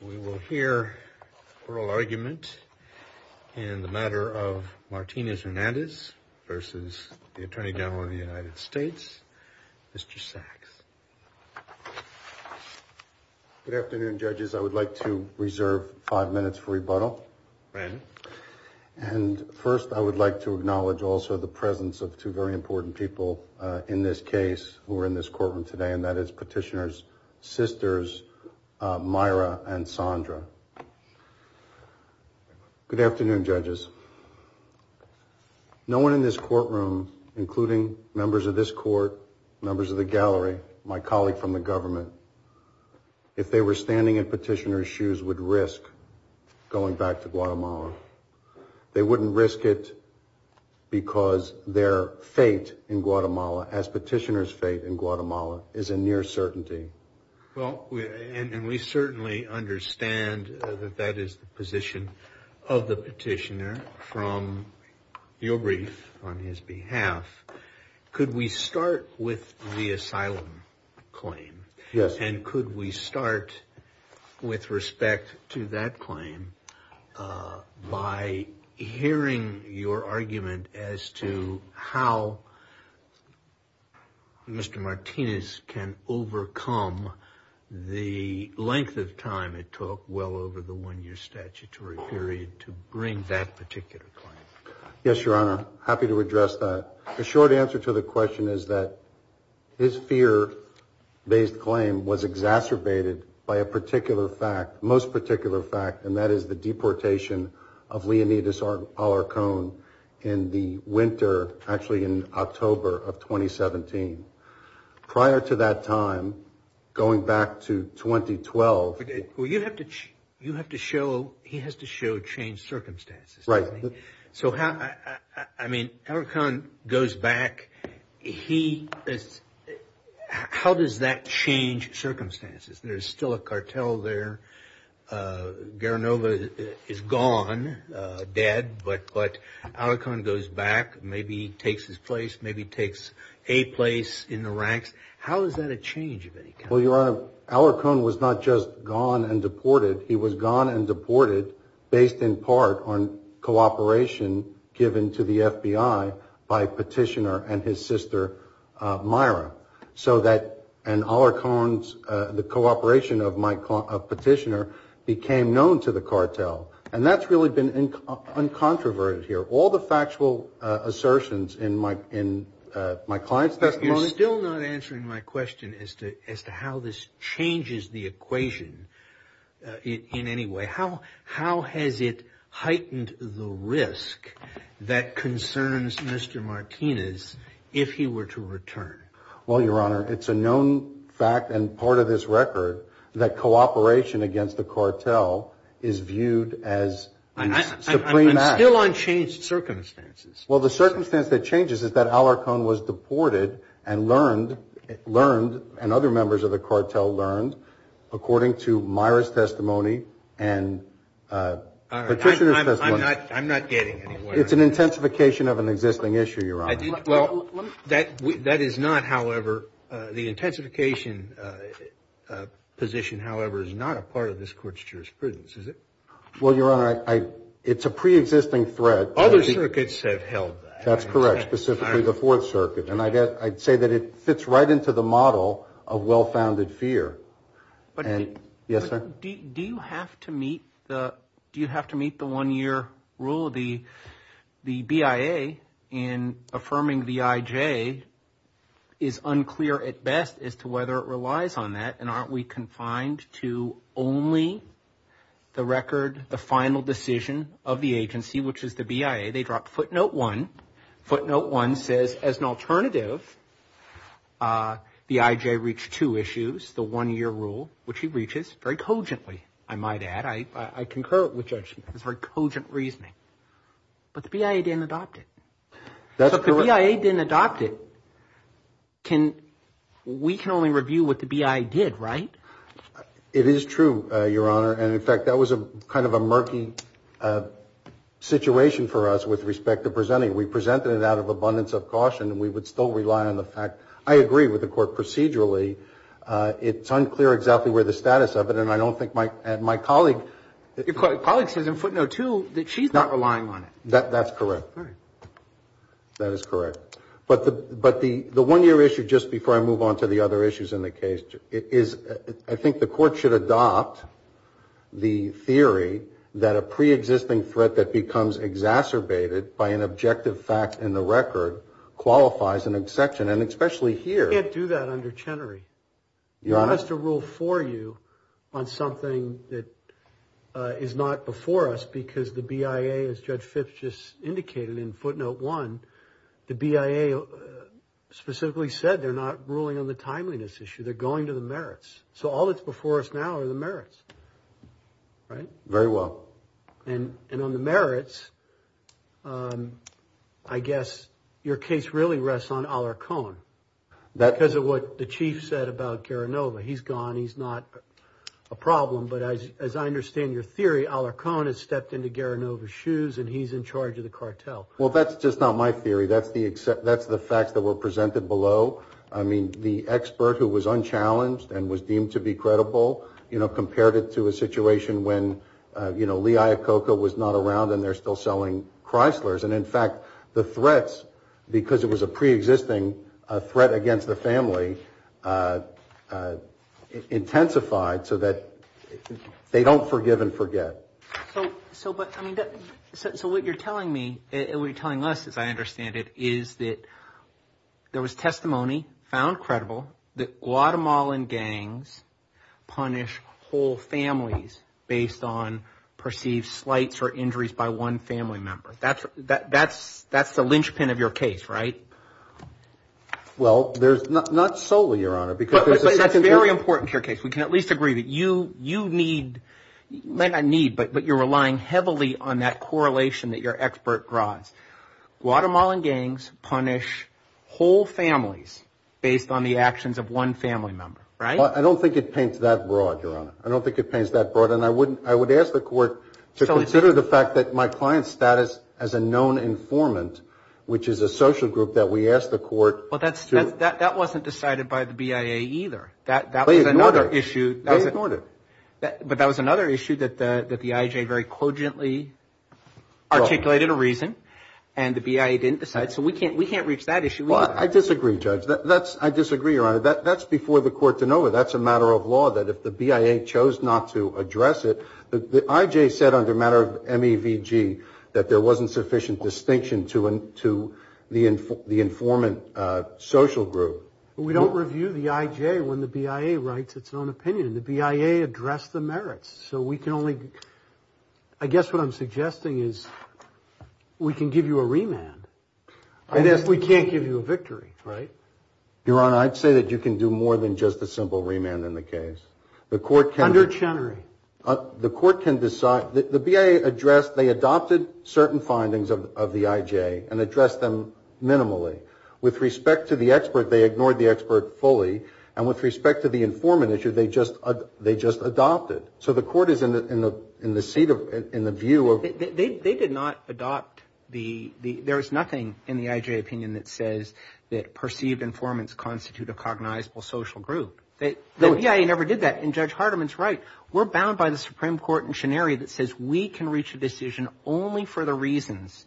We will hear oral argument in the matter of Martinez-Hernandez versus the Attorney General of the United States Mr. Sachs. Good afternoon judges I would like to reserve five minutes for rebuttal and first I would like to acknowledge also the presence of two very important people in this case who Sandra. Good afternoon judges. No one in this courtroom including members of this court, members of the gallery, my colleague from the government, if they were standing at petitioner's shoes would risk going back to Guatemala. They wouldn't risk it because their fate in Guatemala as petitioners fate in understand that that is the position of the petitioner from your brief on his behalf. Could we start with the asylum claim? Yes. And could we start with respect to that claim by hearing your argument as to how Mr. Martinez can justify the time it took well over the one-year statutory period to bring that particular claim? Yes your honor happy to address that. The short answer to the question is that his fear-based claim was exacerbated by a particular fact most particular fact and that is the deportation of Leonidas Alarcón in the winter actually in October of 2017. Prior to that time going back to 2012 Well you have to show he has to show change circumstances. Right. So how I mean Alarcón goes back he is how does that change circumstances? There's still a cartel there. Guerra Nova is gone dead but but Alarcón goes back maybe takes his place maybe takes a place in the ranks. How is that a change of any Well your honor Alarcón was not just gone and deported he was gone and deported based in part on cooperation given to the FBI by petitioner and his sister Myra so that and Alarcón's the cooperation of my petitioner became known to the cartel and that's really been uncontroverted here all the factual assertions in my in my clients testimony. You're still not answering my to how this changes the equation in any way how how has it heightened the risk that concerns Mr. Martinez if he were to return? Well your honor it's a known fact and part of this record that cooperation against the cartel is viewed as I'm still on changed circumstances. Well the circumstance that changes is that members of the cartel learned according to Myra's testimony and it's an intensification of an existing issue your honor. That that is not however the intensification position however is not a part of this court's jurisprudence is it? Well your honor I it's a pre-existing threat. Other circuits have held that. That's correct specifically the Fourth Circuit and I guess I'd say that it fits right into the model of well-founded fear. Yes sir? Do you have to meet the do you have to meet the one-year rule the the BIA in affirming the IJ is unclear at best as to whether it relies on that and aren't we confined to only the record the final decision of the agency which is the BIA they dropped footnote one footnote one says as an alternative the IJ reached two issues the one-year rule which he reaches very cogently I might add I I concur with judgment it's very cogent reasoning but the BIA didn't adopt it. That's correct. The BIA didn't adopt it can we can only review what the BIA did right? It is true your honor and in fact that was a kind of a murky situation for us with respect to presenting we presented it out of abundance of caution and we would still rely on the fact I agree with the court procedurally it's unclear exactly where the status of it and I don't think my and my colleague your colleague says in footnote two that she's not relying on it that that's correct that is correct but the but the the one year issue just before I move on to the other issues in the case is I think the the theory that a pre-existing threat that becomes exacerbated by an objective fact in the record qualifies an exception and especially here. You can't do that under Chenery. Your honor. He has to rule for you on something that is not before us because the BIA as Judge Phipps just indicated in footnote one the BIA specifically said they're not ruling on the timeliness issue they're going to the merits so all that's before us now are the merits. Very well. And on the merits I guess your case really rests on Alarcon because of what the chief said about Garanova. He's gone he's not a problem but as I understand your theory Alarcon has stepped into Garanova's shoes and he's in charge of the cartel. Well that's just not my theory that's the fact that were presented below I mean the expert who was credible you know compared it to a situation when you know Lee Iacocca was not around and they're still selling Chrysler's and in fact the threats because it was a pre-existing threat against the family intensified so that they don't forgive and forget. So what you're telling me and what you're telling us as I understand it is that there was testimony found credible that Guatemalan gangs punish whole families based on perceived slights or injuries by one family member that's that that's that's the linchpin of your case right? Well there's not not solely your honor because that's very important your case we can at least agree that you you need may not need but but you're relying heavily on that correlation that your expert draws. Guatemalan gangs punish whole families based on the actions of one family member right? I don't think it paints that broad your honor I don't think it paints that broad and I wouldn't I would ask the court to consider the fact that my client's status as a known informant which is a social group that we asked the court. Well that's that wasn't decided by the BIA either that that was another issue. But that was another issue that that the IJ very cogently articulated a reason and the BIA didn't decide so we can't we can't reach that issue. Well I disagree judge that that's I disagree your honor that that's before the court to know it that's a matter of law that if the BIA chose not to address it the IJ said under matter of MEVG that there wasn't sufficient distinction to and to the info the informant social group. We don't review the IJ when the BIA writes its own opinion the BIA addressed the merits so we can only I guess what I'm remand. I guess we can't give you a victory right? Your honor I'd say that you can do more than just a simple remand in the case. The court can. Under Chenery. The court can decide the BIA addressed they adopted certain findings of the IJ and addressed them minimally. With respect to the expert they ignored the expert fully and with respect to the informant issue they just they just adopted. So the court is in the in the seat of in the view of. They did not adopt the the there is nothing in the IJ opinion that says that perceived informants constitute a cognizable social group. The BIA never did that and Judge Hardiman's right. We're bound by the Supreme Court in Chenery that says we can reach a decision only for the reasons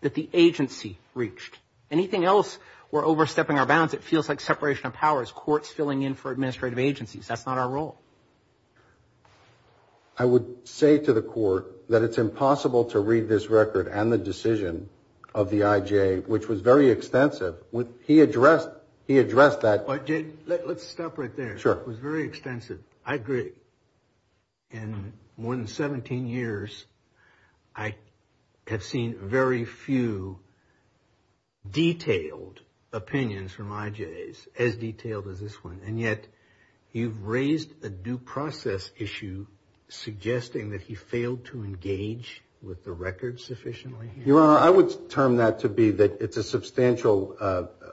that the agency reached. Anything else we're overstepping our bounds it feels like separation of powers. Courts filling in for administrative agencies. That's not our role. I would say to the and the decision of the IJ which was very extensive with he addressed he addressed that. Let's stop right there. Sure. It was very extensive. I agree. In more than 17 years I have seen very few detailed opinions from IJs as detailed as this one and yet you've raised a due process issue suggesting that he failed to engage with the record sufficiently. Your Honor I would term that to be that it's a substantial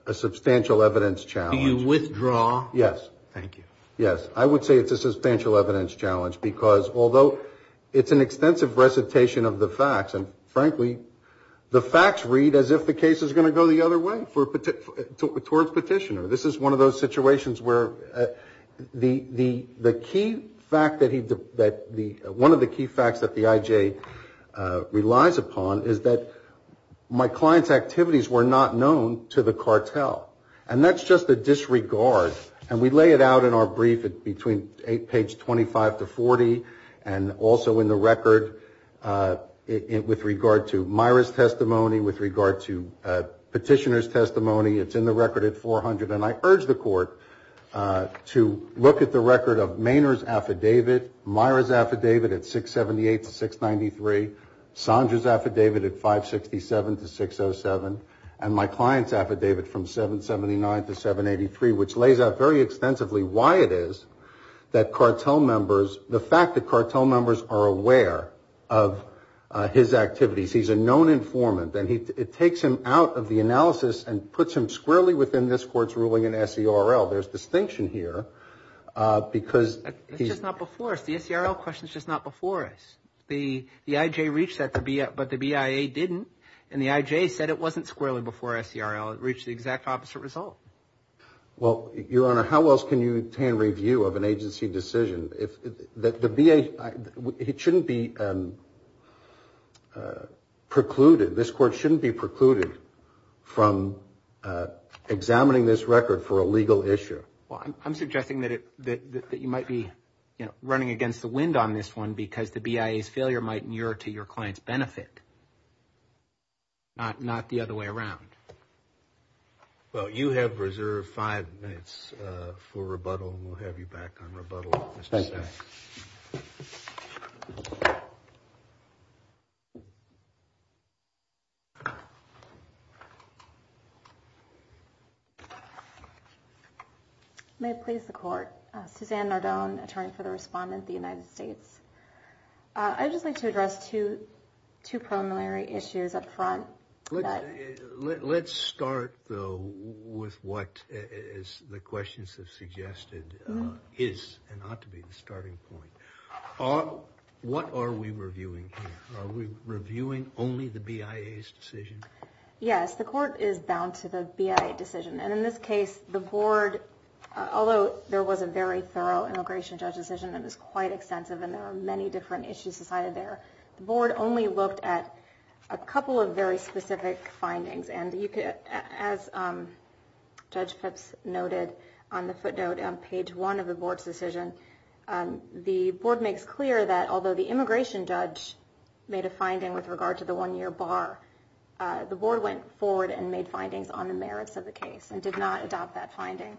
a substantial evidence challenge. Do you withdraw? Yes. Thank you. Yes I would say it's a substantial evidence challenge because although it's an extensive recitation of the facts and frankly the facts read as if the case is going to go the other way for towards petitioner. This is one of those situations where the the the key fact that he that the one of the key facts that the IJ relies upon is that my client's activities were not known to the cartel and that's just a disregard and we lay it out in our brief at between page 25 to 40 and also in the record in with regard to Myra's testimony with regard to petitioner's testimony it's in the record at 400 and I urge the court to look at the record of Maynard's affidavit, Myra's affidavit at 678 to 693, Sandra's affidavit at 567 to 607 and my client's affidavit from 779 to 783 which lays out very extensively why it is that cartel members the fact that cartel members are aware of his activities he's a known informant and he it takes him out of the analysis and puts him squarely within this court's ruling in SERL. There's distinction here because he's not before us the SERL questions just not before us the the IJ reached that to be up but the BIA didn't and the IJ said it wasn't squarely before SERL it reached the exact opposite result. Well your honor how else can you attain review of an agency decision if that the BA it shouldn't be precluded this court shouldn't be precluded from examining this record for a legal issue. Well I'm against the wind on this one because the BIA's failure might mirror to your client's benefit not not the other way around. Well you have reserved five minutes for rebuttal and we'll have you back on I just like to address two two preliminary issues up front. Let's start though with what is the questions have suggested is and ought to be the starting point. What are we reviewing here? Are we reviewing only the BIA's decision? Yes the court is bound to the BIA decision and in this case the board although there was a very thorough immigration judge decision that was quite extensive and there are many different issues decided there the board only looked at a couple of very specific findings and you could as Judge Pipps noted on the footnote on page one of the board's decision the board makes clear that although the immigration judge made a finding with regard to the one-year bar the board went forward and made findings on the merits of the case and did not adopt that finding.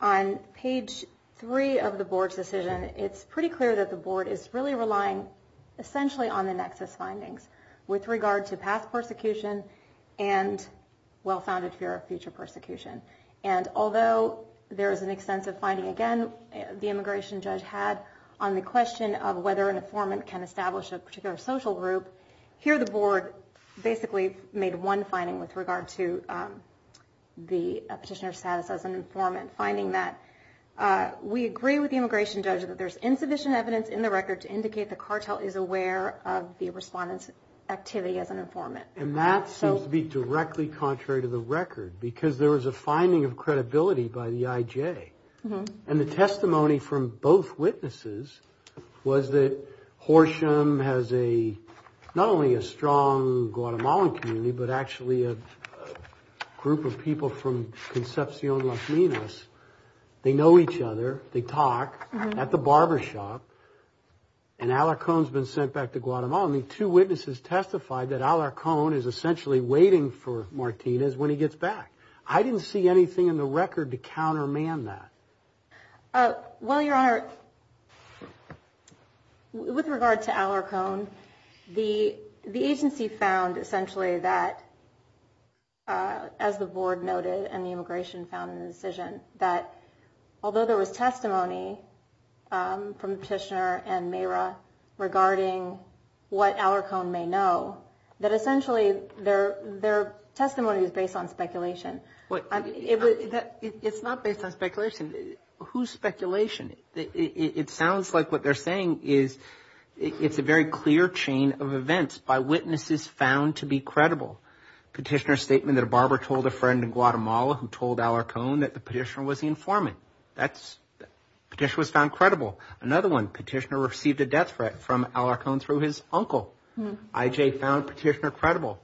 On page three of the board's decision it's pretty clear that the board is really relying essentially on the nexus findings with regard to past persecution and well-founded fear of future persecution and although there is an extensive finding again the immigration judge had on the question of whether an informant can establish a particular social group here the board basically made one finding with regard to the petitioner status as an informant finding that we agree with the immigration judge that there's insufficient evidence in the record to indicate the cartel is aware of the respondents activity as an informant. And that seems to be directly contrary to the record because there was a finding of credibility by the IJ and the Guatemalan community but actually a group of people from Concepcion Las Minas they know each other they talk at the barbershop and Alarcón has been sent back to Guatemala and the two witnesses testified that Alarcón is essentially waiting for Martinez when he gets back. I didn't see anything in the record to essentially that as the board noted and the immigration found in the decision that although there was testimony from the petitioner and Mayra regarding what Alarcón may know that essentially their testimony is based on speculation. It's not based on speculation. Whose speculation? It sounds like what they're saying is it's a very clear chain of events by witnesses found to be credible. Petitioner statement that a barber told a friend in Guatemala who told Alarcón that the petitioner was the informant. Petitioner was found credible. Another one, petitioner received a death threat from Alarcón through his uncle. IJ found petitioner credible.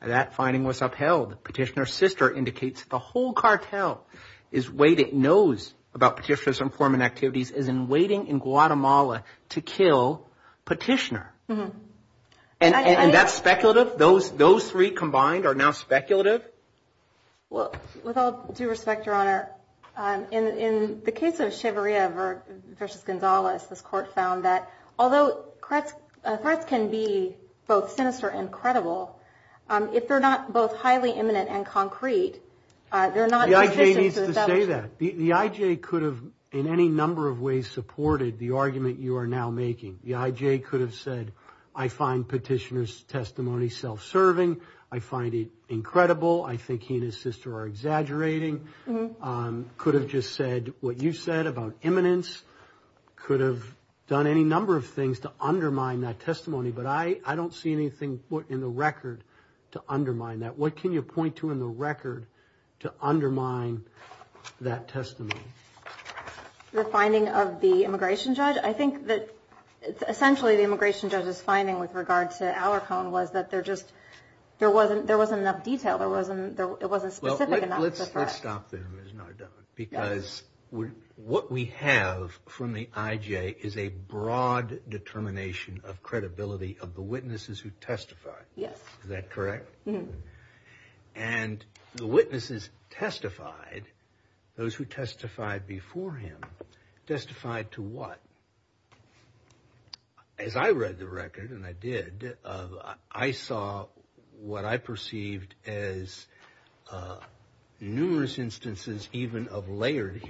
That finding was upheld. Petitioner's sister indicates the whole cartel knows about petitioner's informant activities as in waiting in Guatemala to kill petitioner. And that's speculative? Those three combined are now speculative? Well, with all due respect, your honor, in the case of Chavarria versus González, this court found that although threats can be both sinister and credible, if they're not both highly imminent and concrete, they're not... The IJ needs to say that. The IJ could have in any number of ways supported the argument you are now making. The IJ could have said, I find petitioner's testimony self-serving. I find it incredible. I think he and his sister are exaggerating. Could have just said what you said about imminence. Could have done any number of things to undermine that testimony. But I don't see anything put in the record to undermine that. What can you point to in the record to undermine that testimony? The finding of the immigration judge? I think that essentially the immigration judge's finding with regard to Alarcon was that there just... there wasn't enough detail. There wasn't specific enough. Let's stop there, Ms. Nardone. Because what we have from the IJ is a broad determination of credibility of the witnesses who testified. Yes. Is that correct? Mm-hmm. And the witnesses testified, those who testified before him, testified to what? As I read the record, and I did, I saw what I perceived as numerous instances even of layered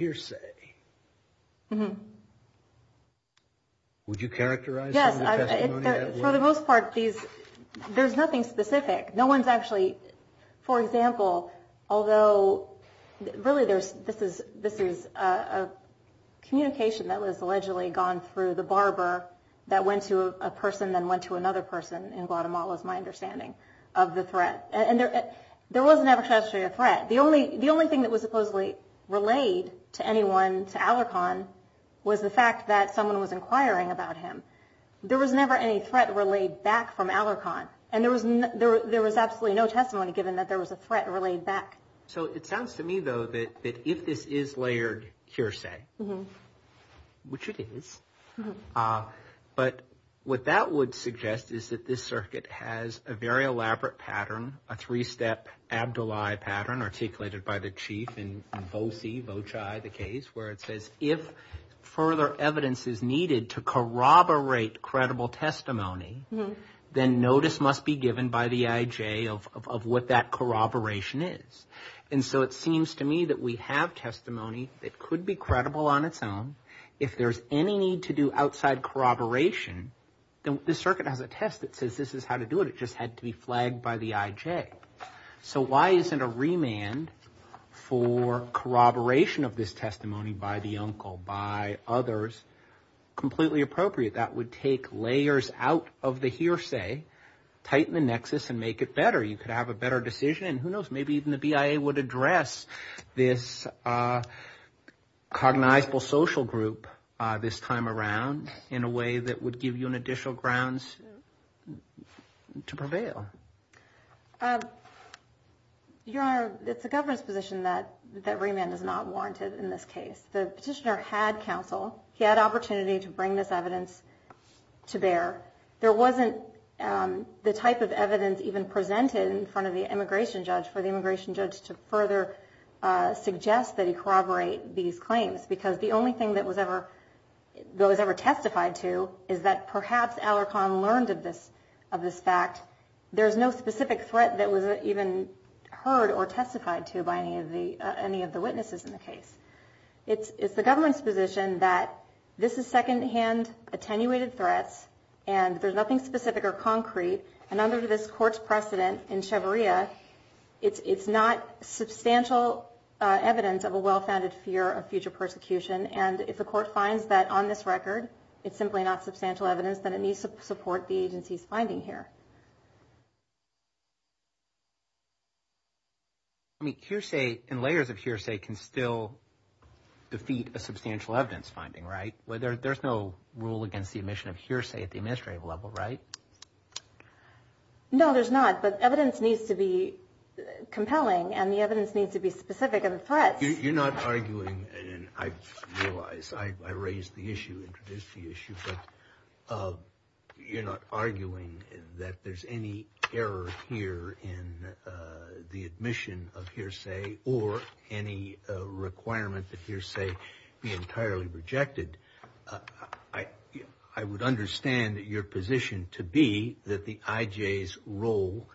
There's nothing specific. No one's actually... for example, although really there's... this is a communication that was allegedly gone through the barber that went to a person then went to another person in Guatemala, is my understanding of the threat. And there was never actually a threat. The only thing that was supposedly relayed to anyone, to Alarcon, was the fact that someone was inquiring about him. There was never any threat relayed back from Alarcon. And there was absolutely no testimony given that there was a threat relayed back. So it sounds to me, though, that if this is layered hearsay, which it is, but what that would suggest is that this circuit has a very elaborate pattern, a three-step abdullahi pattern articulated by the chief in Boci, the case, where it says if further evidence is then notice must be given by the IJ of what that corroboration is. And so it seems to me that we have testimony that could be credible on its own. If there's any need to do outside corroboration, then the circuit has a test that says this is how to do it. It just had to be flagged by the IJ. So why isn't a remand for corroboration of this testimony by the uncle, by others, completely appropriate? That would take layers out of the hearsay, tighten the nexus, and make it better. You could have a better decision, and who knows, maybe even the BIA would address this cognizable social group this time around in a way that would give you an additional grounds to prevail. Your Honor, it's a governance position that that remand is not warranted in this case. The petitioner had counsel. He had opportunity to bring this evidence to bear. There wasn't the type of evidence even presented in front of the immigration judge for the immigration judge to further suggest that he corroborate these claims, because the only thing that was ever testified to is that perhaps Alarcon learned of this fact. There's no specific threat that was even heard or testified to by any of the witnesses in the case. It's the government's position that this is secondhand attenuated threats, and there's nothing specific or concrete. And under this court's precedent in Cheveria, it's not substantial evidence of a well-founded fear of future persecution. And if the court finds that on this record, it's simply not substantial evidence, then it needs to support the agency's finding here. I mean, hearsay and layers of hearsay can still defeat a substantial evidence finding, right? There's no rule against the admission of hearsay at the administrative level, right? No, there's not. But evidence needs to be compelling, and the evidence needs to be specific of the threats. You're not arguing, and I realize I raised the issue, introduced the issue, but you're not arguing that there's any error here in the admission of hearsay or any requirement that hearsay be entirely rejected. I would understand your position to be that the IJ's role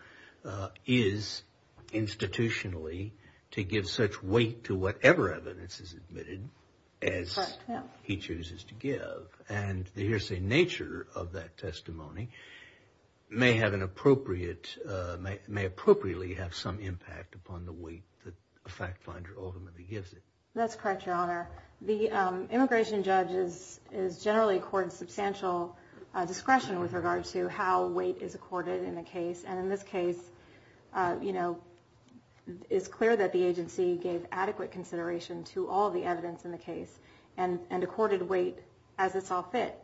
is institutionally to give such weight to whatever evidence is admitted as he chooses to give, and the hearsay nature of that testimony may have an appropriate, may appropriately have some impact upon the weight that a fact-finder ultimately gives it. That's correct, Your Honor. The immigration judge is generally accorded substantial discretion with regard to how weight is accorded in a case, and in this case, you know, it's clear that the agency gave adequate consideration to all the evidence in the case and accorded weight as it saw fit,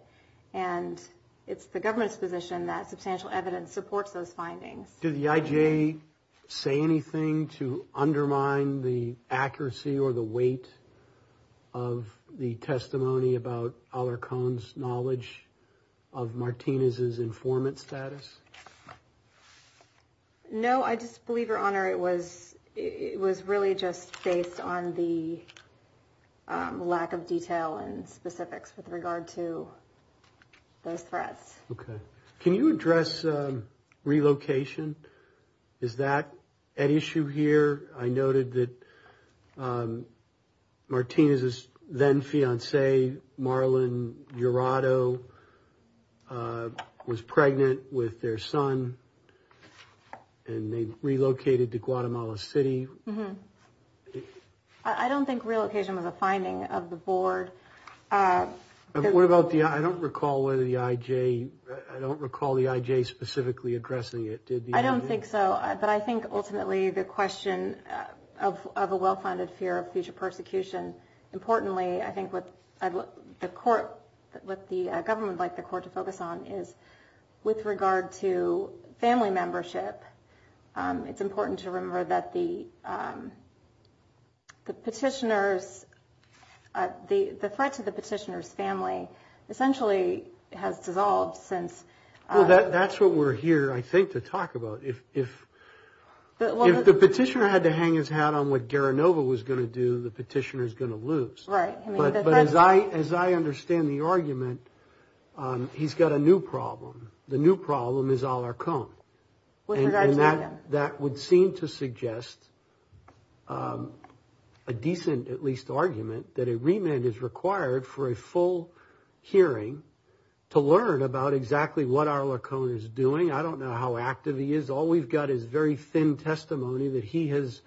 and it's the government's position that substantial evidence supports those findings. Did the IJ say anything to undermine the accuracy or the weight of the testimony about Alarcon's knowledge of Martinez's case based on the lack of detail and specifics with regard to those threats? Okay. Can you address relocation? Is that an issue here? I noted that Martinez's then-fiancé, Marlon Jurado, was pregnant with their son and they relocated to I don't think relocation was a finding of the board. What about the, I don't recall whether the IJ, I don't recall the IJ specifically addressing it. I don't think so, but I think ultimately the question of a well-founded fear of future persecution. Importantly, I think what the court, what the government would like the court to focus on is with regard to family membership, it's the petitioner's, the threat to the petitioner's family essentially has dissolved since. Well, that's what we're here, I think, to talk about. If the petitioner had to hang his hat on what Garanova was going to do, the petitioner is going to lose. Right. But as I understand the argument, he's got a new problem. The new problem is Alarcon. With regard to him. That would seem to be a decent, at least, argument that a remand is required for a full hearing to learn about exactly what Alarcon is doing. I don't know how active he is. All we've got is very thin testimony that he has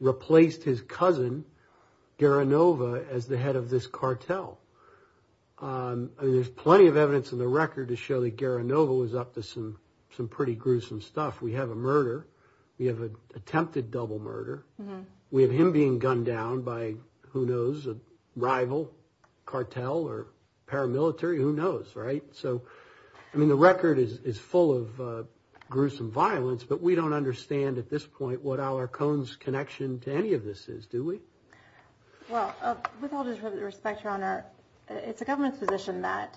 replaced his cousin, Garanova, as the head of this cartel. There's plenty of evidence in the record to show that Garanova was up to some pretty gruesome stuff. We have a murder. We have an being gunned down by, who knows, a rival cartel or paramilitary. Who knows, right? So, I mean, the record is full of gruesome violence, but we don't understand at this point what Alarcon's connection to any of this is, do we? Well, with all due respect, Your Honor, it's the government's position that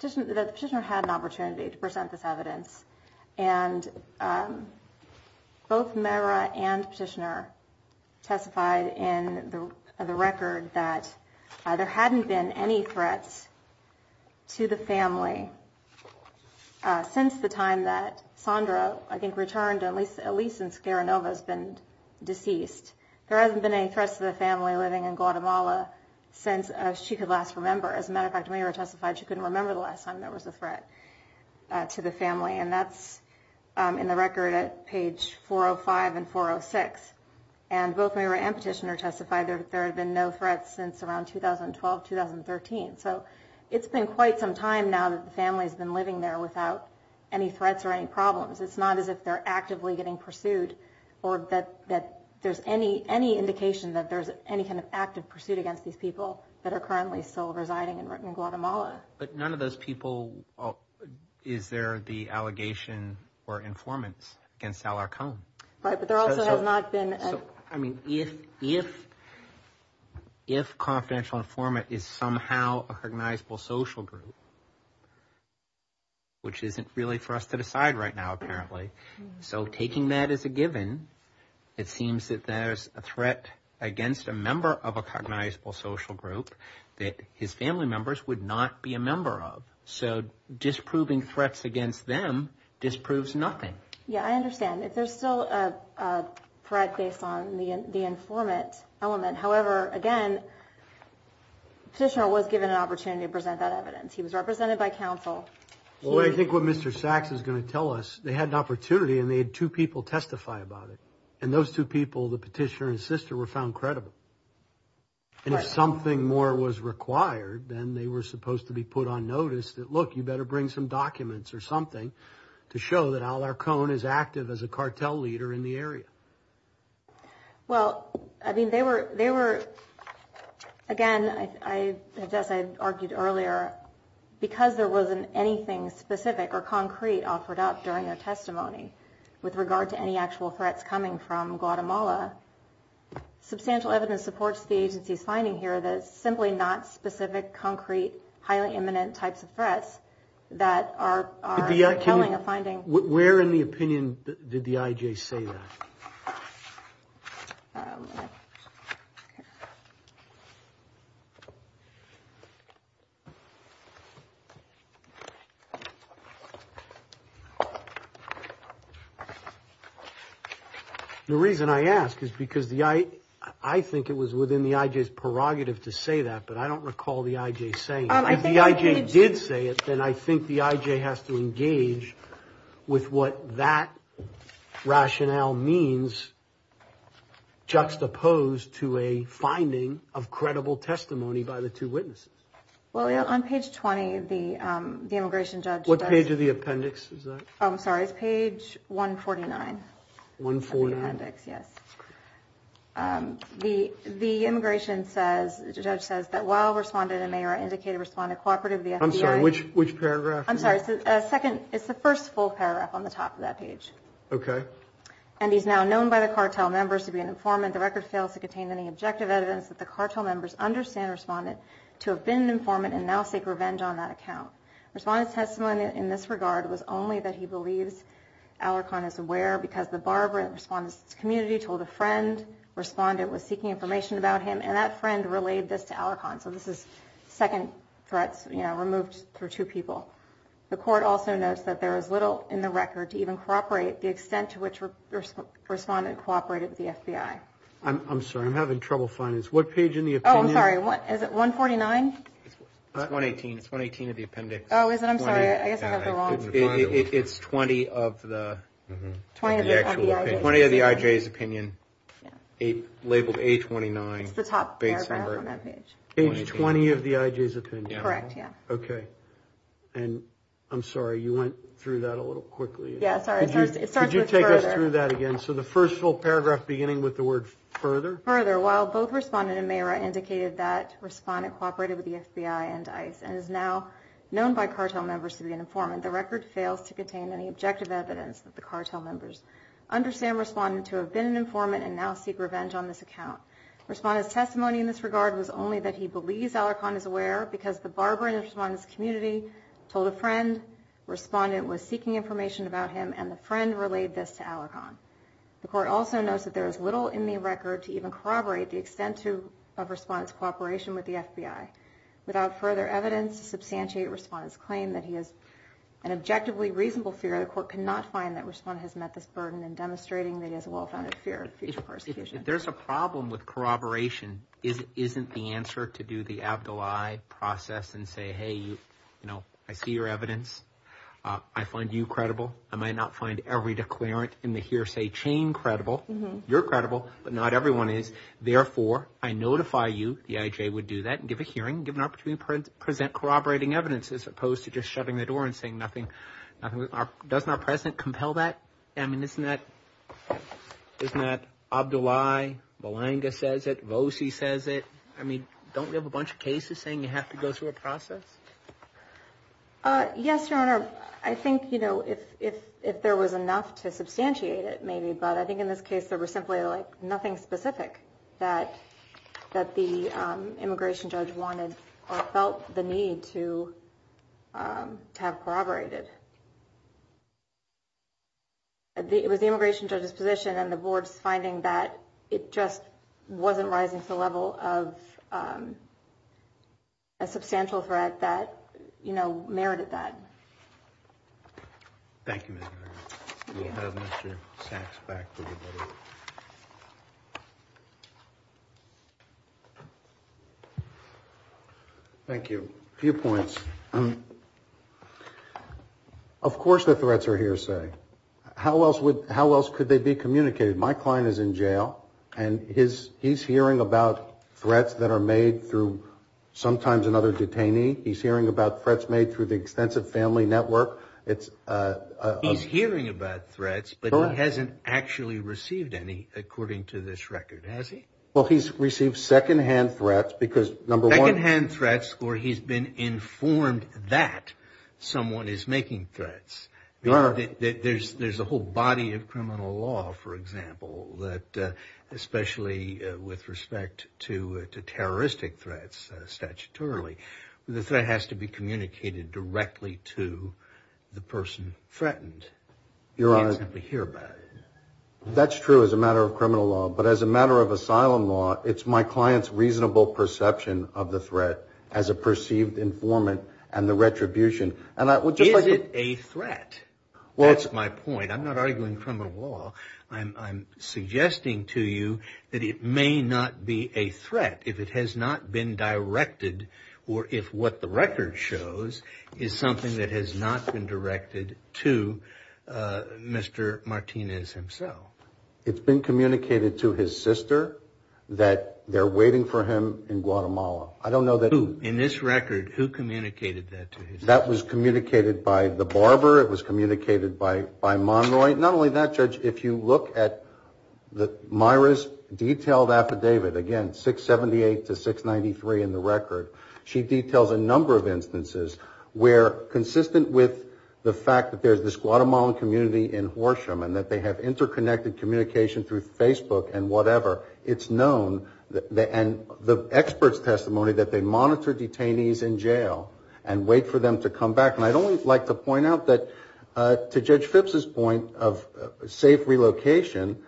the petitioner had an opportunity to present this evidence, and both Meira and petitioner testified in the record that there hadn't been any threats to the family since the time that Sondra, I think, returned, at least since Garanova's been deceased. There hasn't been any threats to the family living in Guatemala since she could last remember. As a matter of fact, Meira testified she couldn't remember the last time there was a threat to the family, and that's in the record at page 405 and 406, and both Meira and petitioner testified that there had been no threats since around 2012-2013. So, it's been quite some time now that the family's been living there without any threats or any problems. It's not as if they're actively getting pursued, or that there's any indication that there's any kind of active pursuit against these people that are currently still residing in Guatemala. But none of those people, is there the allegation or informants against Alarcón? Right, but there also has not been... I mean, if confidential informant is somehow a cognizable social group, which isn't really for us to decide right now apparently, so taking that as a given, it seems that there's a threat against a member of a cognizable social group that his family members would not be a member of. So, disproving threats against them disproves nothing. Yeah, I understand. If there's still a threat based on the informant element, however, again, petitioner was given an opportunity to present that evidence. He was represented by counsel. Well, I think what Mr. Sachs is going to tell us, they had an opportunity and they had two people testify about it, and those two people, the petitioner and his sister, were found credible. And if something more was required, then they were supposed to be put on notice that, look, you better bring some documents or something to show that Alarcón is active as a cartel leader in the area. Well, I mean, they were, again, I guess I argued earlier, because there wasn't anything specific or concrete offered up during their testimony with regard to any actual threats coming from Guatemala, substantial evidence supports the agency's finding here that it's simply not specific, concrete, highly imminent types of threats that are compelling a finding. Where in the opinion did the IJ say that? The reason I ask is because the I, I think it was within the IJ's prerogative to say that, but I don't recall the IJ saying it. If the IJ did say it, then I think the IJ has to engage with what that rationale means juxtaposed to a finding of credible testimony by the two witnesses. Well, on page 20, the immigration judge... What page of the appendix is that? Oh, I'm sorry, it's page 149. 149? The immigration judge says that while Respondent and Mayor indicated Respondent cooperated with the FBI... I'm sorry, which paragraph is that? I'm sorry, it's the first full paragraph on the top of that page. Okay. And he's now known by the cartel members to be an informant. The record fails to contain any objective evidence that the cartel members understand Respondent to have been an informant and now seek revenge on that account. Respondent's testimony in this regard was only that he believes Alarcon is aware because the Barbara Respondent's community told a friend Respondent was seeking information about him, and that friend relayed this to Alarcon. So this is second threats removed for two people. The court also notes that there is little in the record to even corroborate the extent to which Respondent cooperated with the FBI. I'm sorry, I'm having trouble finding this. What page in the opinion... Oh, I'm sorry, is it 149? It's 118. It's 118 of the appendix. Oh, is it? I'm sorry, I guess I have the wrong... It's 20 of the... 20 of the IJ's opinion, labeled A29. It's the top paragraph on that page. Page 20 of the IJ's opinion. Correct, yeah. Okay, and I'm sorry, you went through that a little quickly. Yeah, sorry, it starts with further. Could you take us through that again? So the first full paragraph beginning with the word further? Further, while both Respondent and Mayra indicated that Respondent cooperated with the FBI and ICE and is now known by cartel members to be an informant, the record fails to contain any objective evidence that the cartel members understand Respondent to have been an informant and now seek revenge on this account. Respondent's testimony in this regard was only that he believes Alarcon is aware because the barber in Respondent's community told a friend, Respondent was seeking information about him, and the friend relayed this to Alarcon. The court also notes that there is little in the record to even corroborate the extent of Respondent's cooperation with the FBI. Without further evidence to substantiate Respondent's claim that he has an objectively reasonable fear, the court cannot find that Respondent has met this burden in demonstrating that he has a well-founded fear of future persecution. If there's a problem with corroboration, isn't the answer to do the Abdullahi process and say, hey, you know, I see your evidence. I find you credible. I might not find every declarant in the hearsay chain credible. You're credible, but not everyone is. Therefore, I notify you. The IJ would do that and give a hearing, give an opportunity to present corroborating evidence as opposed to just shutting the door and saying nothing. Doesn't our president compel that? I mean, isn't that Abdullahi, Balanga says it, Vosey says it. I mean, don't we have a bunch of cases saying you have to go through a process? Yes, Your Honor. I think, you know, if if if there was enough to substantiate it, maybe. But I think in this case, there were simply like nothing specific that that the immigration judge wanted or felt the need to have corroborated. It was the immigration judge's position and the board's finding that it just wasn't rising to the level of a substantial threat that, you know, merited that. Thank you. Thank you. A few points. Of course, the threats are hearsay. How else would how else could they be communicated? My client is in jail and his he's hearing about threats that are made through sometimes another detainee. He's hearing about threats made through the extensive family network. It's he's hearing about threats, but he hasn't actually received any, according to this record, has he? Well, he's received secondhand threats because number one hand threats or he's been informed that someone is making threats. There's there's a whole body of criminal law, for example, that especially with respect to to terroristic threats. Statutorily, the threat has to be communicated directly to the person threatened. Your honor, we hear about it. That's true as a matter of criminal law. But as a matter of asylum law, it's my client's reasonable perception of the threat as a perceived informant and the retribution. And I would just like it a threat. Well, that's my point. I'm not arguing criminal law. I'm suggesting to you that it may not be a threat if it has not been directed or if what the record shows is something that has not been directed to Mr. Martinez himself. It's been communicated to his sister that they're waiting for him in Guatemala. I don't know that in this record who communicated that. That was communicated by the barber. It was communicated by by Monroy. Not only that, Judge, if you look at the Myra's detailed affidavit again, 678 to 693 in the record, she details a number of instances where consistent with the fact that there's this Guatemalan community in Horsham and that they have interconnected communication through Facebook and whatever, it's known that and the experts testimony that they monitor detainees in jail and wait for them to come back. And I'd only like to point out that to Judge Phipps's point of safe relocation,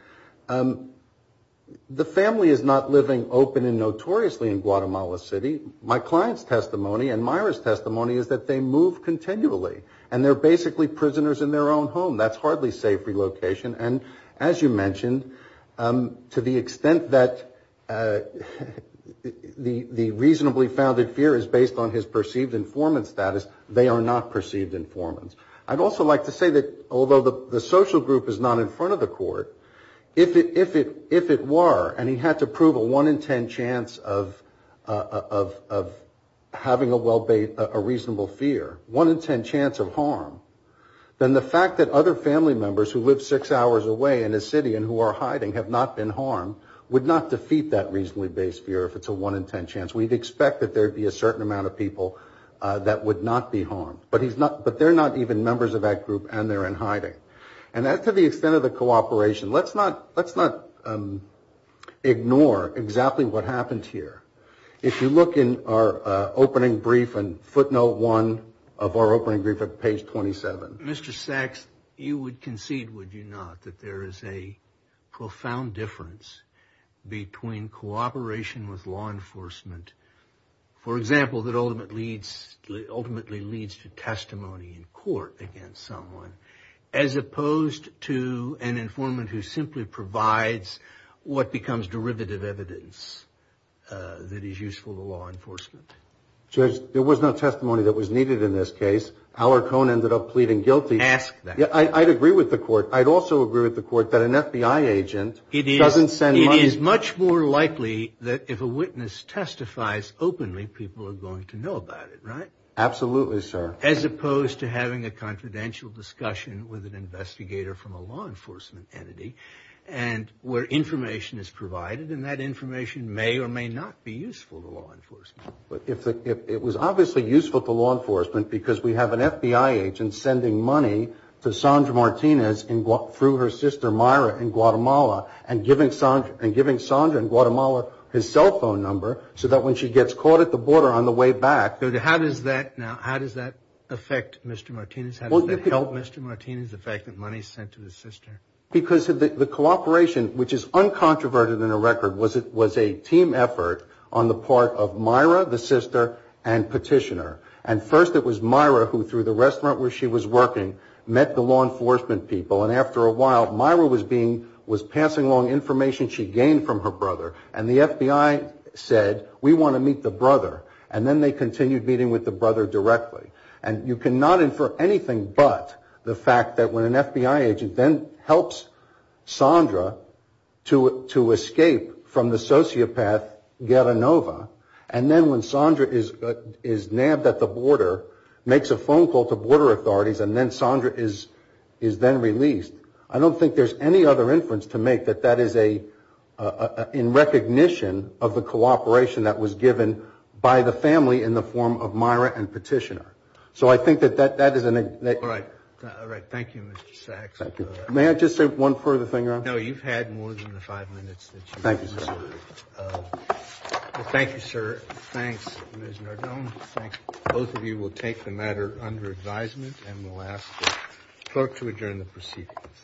the family is not living open and notoriously in Guatemala City. My client's testimony and Myra's testimony is that they move continually and they're basically prisoners in their own home. That's hardly safe relocation. And as you mentioned, to the extent that the reasonably founded fear is based on his perceived informant status, they are not perceived informants. I'd also like to say that although the social group is not in front of the court, if it were and he had to prove a one in ten chance of having a reasonable fear, one in ten chance of harm, then the fact that other family members who live six hours away in a city and who are hiding have not been harmed, would not defeat that reasonably based fear if it's a one in ten chance. We'd expect that there would be a certain amount of people that would not be harmed. But they're not even members of that group and they're in hiding. And as to the extent of the cooperation, let's not ignore exactly what happened here. If you look in our opening brief and footnote one of our opening brief at page 27. Mr. Sachs, you would concede, would you not, that there is a profound difference between cooperation with law enforcement, for example, that ultimately leads to testimony in court against someone, as opposed to an informant who simply provides what becomes derivative evidence that is useful to law enforcement? Judge, there was no testimony that was needed in this case. Aller Cohn ended up pleading guilty. Ask that. I'd agree with the court. I'd also agree with the court that an FBI agent doesn't send money. It is much more likely that if a witness testifies openly, people are going to know about it, right? Absolutely, sir. As opposed to having a confidential discussion with an investigator from a law enforcement entity and where information is provided and that information may or may not be useful to law enforcement. It was obviously useful to law enforcement because we have an FBI agent sending money to Sandra Martinez through her sister Myra in Guatemala and giving Sandra in Guatemala his cell phone number so that when she gets caught at the border on the way back. How does that affect Mr. Martinez? How does that help Mr. Martinez, the fact that money is sent to his sister? Because the cooperation, which is uncontroverted in the record, was a team effort on the part of Myra, the sister, and Petitioner. And first it was Myra who, through the restaurant where she was working, met the law enforcement people. And after a while, Myra was passing along information she gained from her brother. And the FBI said, we want to meet the brother. And then they continued meeting with the brother directly. And you cannot infer anything but the fact that when an FBI agent then helps Sandra to escape from the sociopath Guerra Nova, and then when Sandra is nabbed at the border, makes a phone call to border authorities, and then Sandra is then released. I don't think there's any other inference to make that that is a, in recognition of the cooperation that was given by the family in the form of Myra and Petitioner. So I think that that is an... All right. All right. Thank you, Mr. Sachs. Thank you. May I just say one further thing? No, you've had more than the five minutes. Thank you, sir. Thank you, sir. Thanks, Ms. Nardone. Thank you. Both of you will take the matter under advisement and we'll ask the clerk to adjourn the proceedings.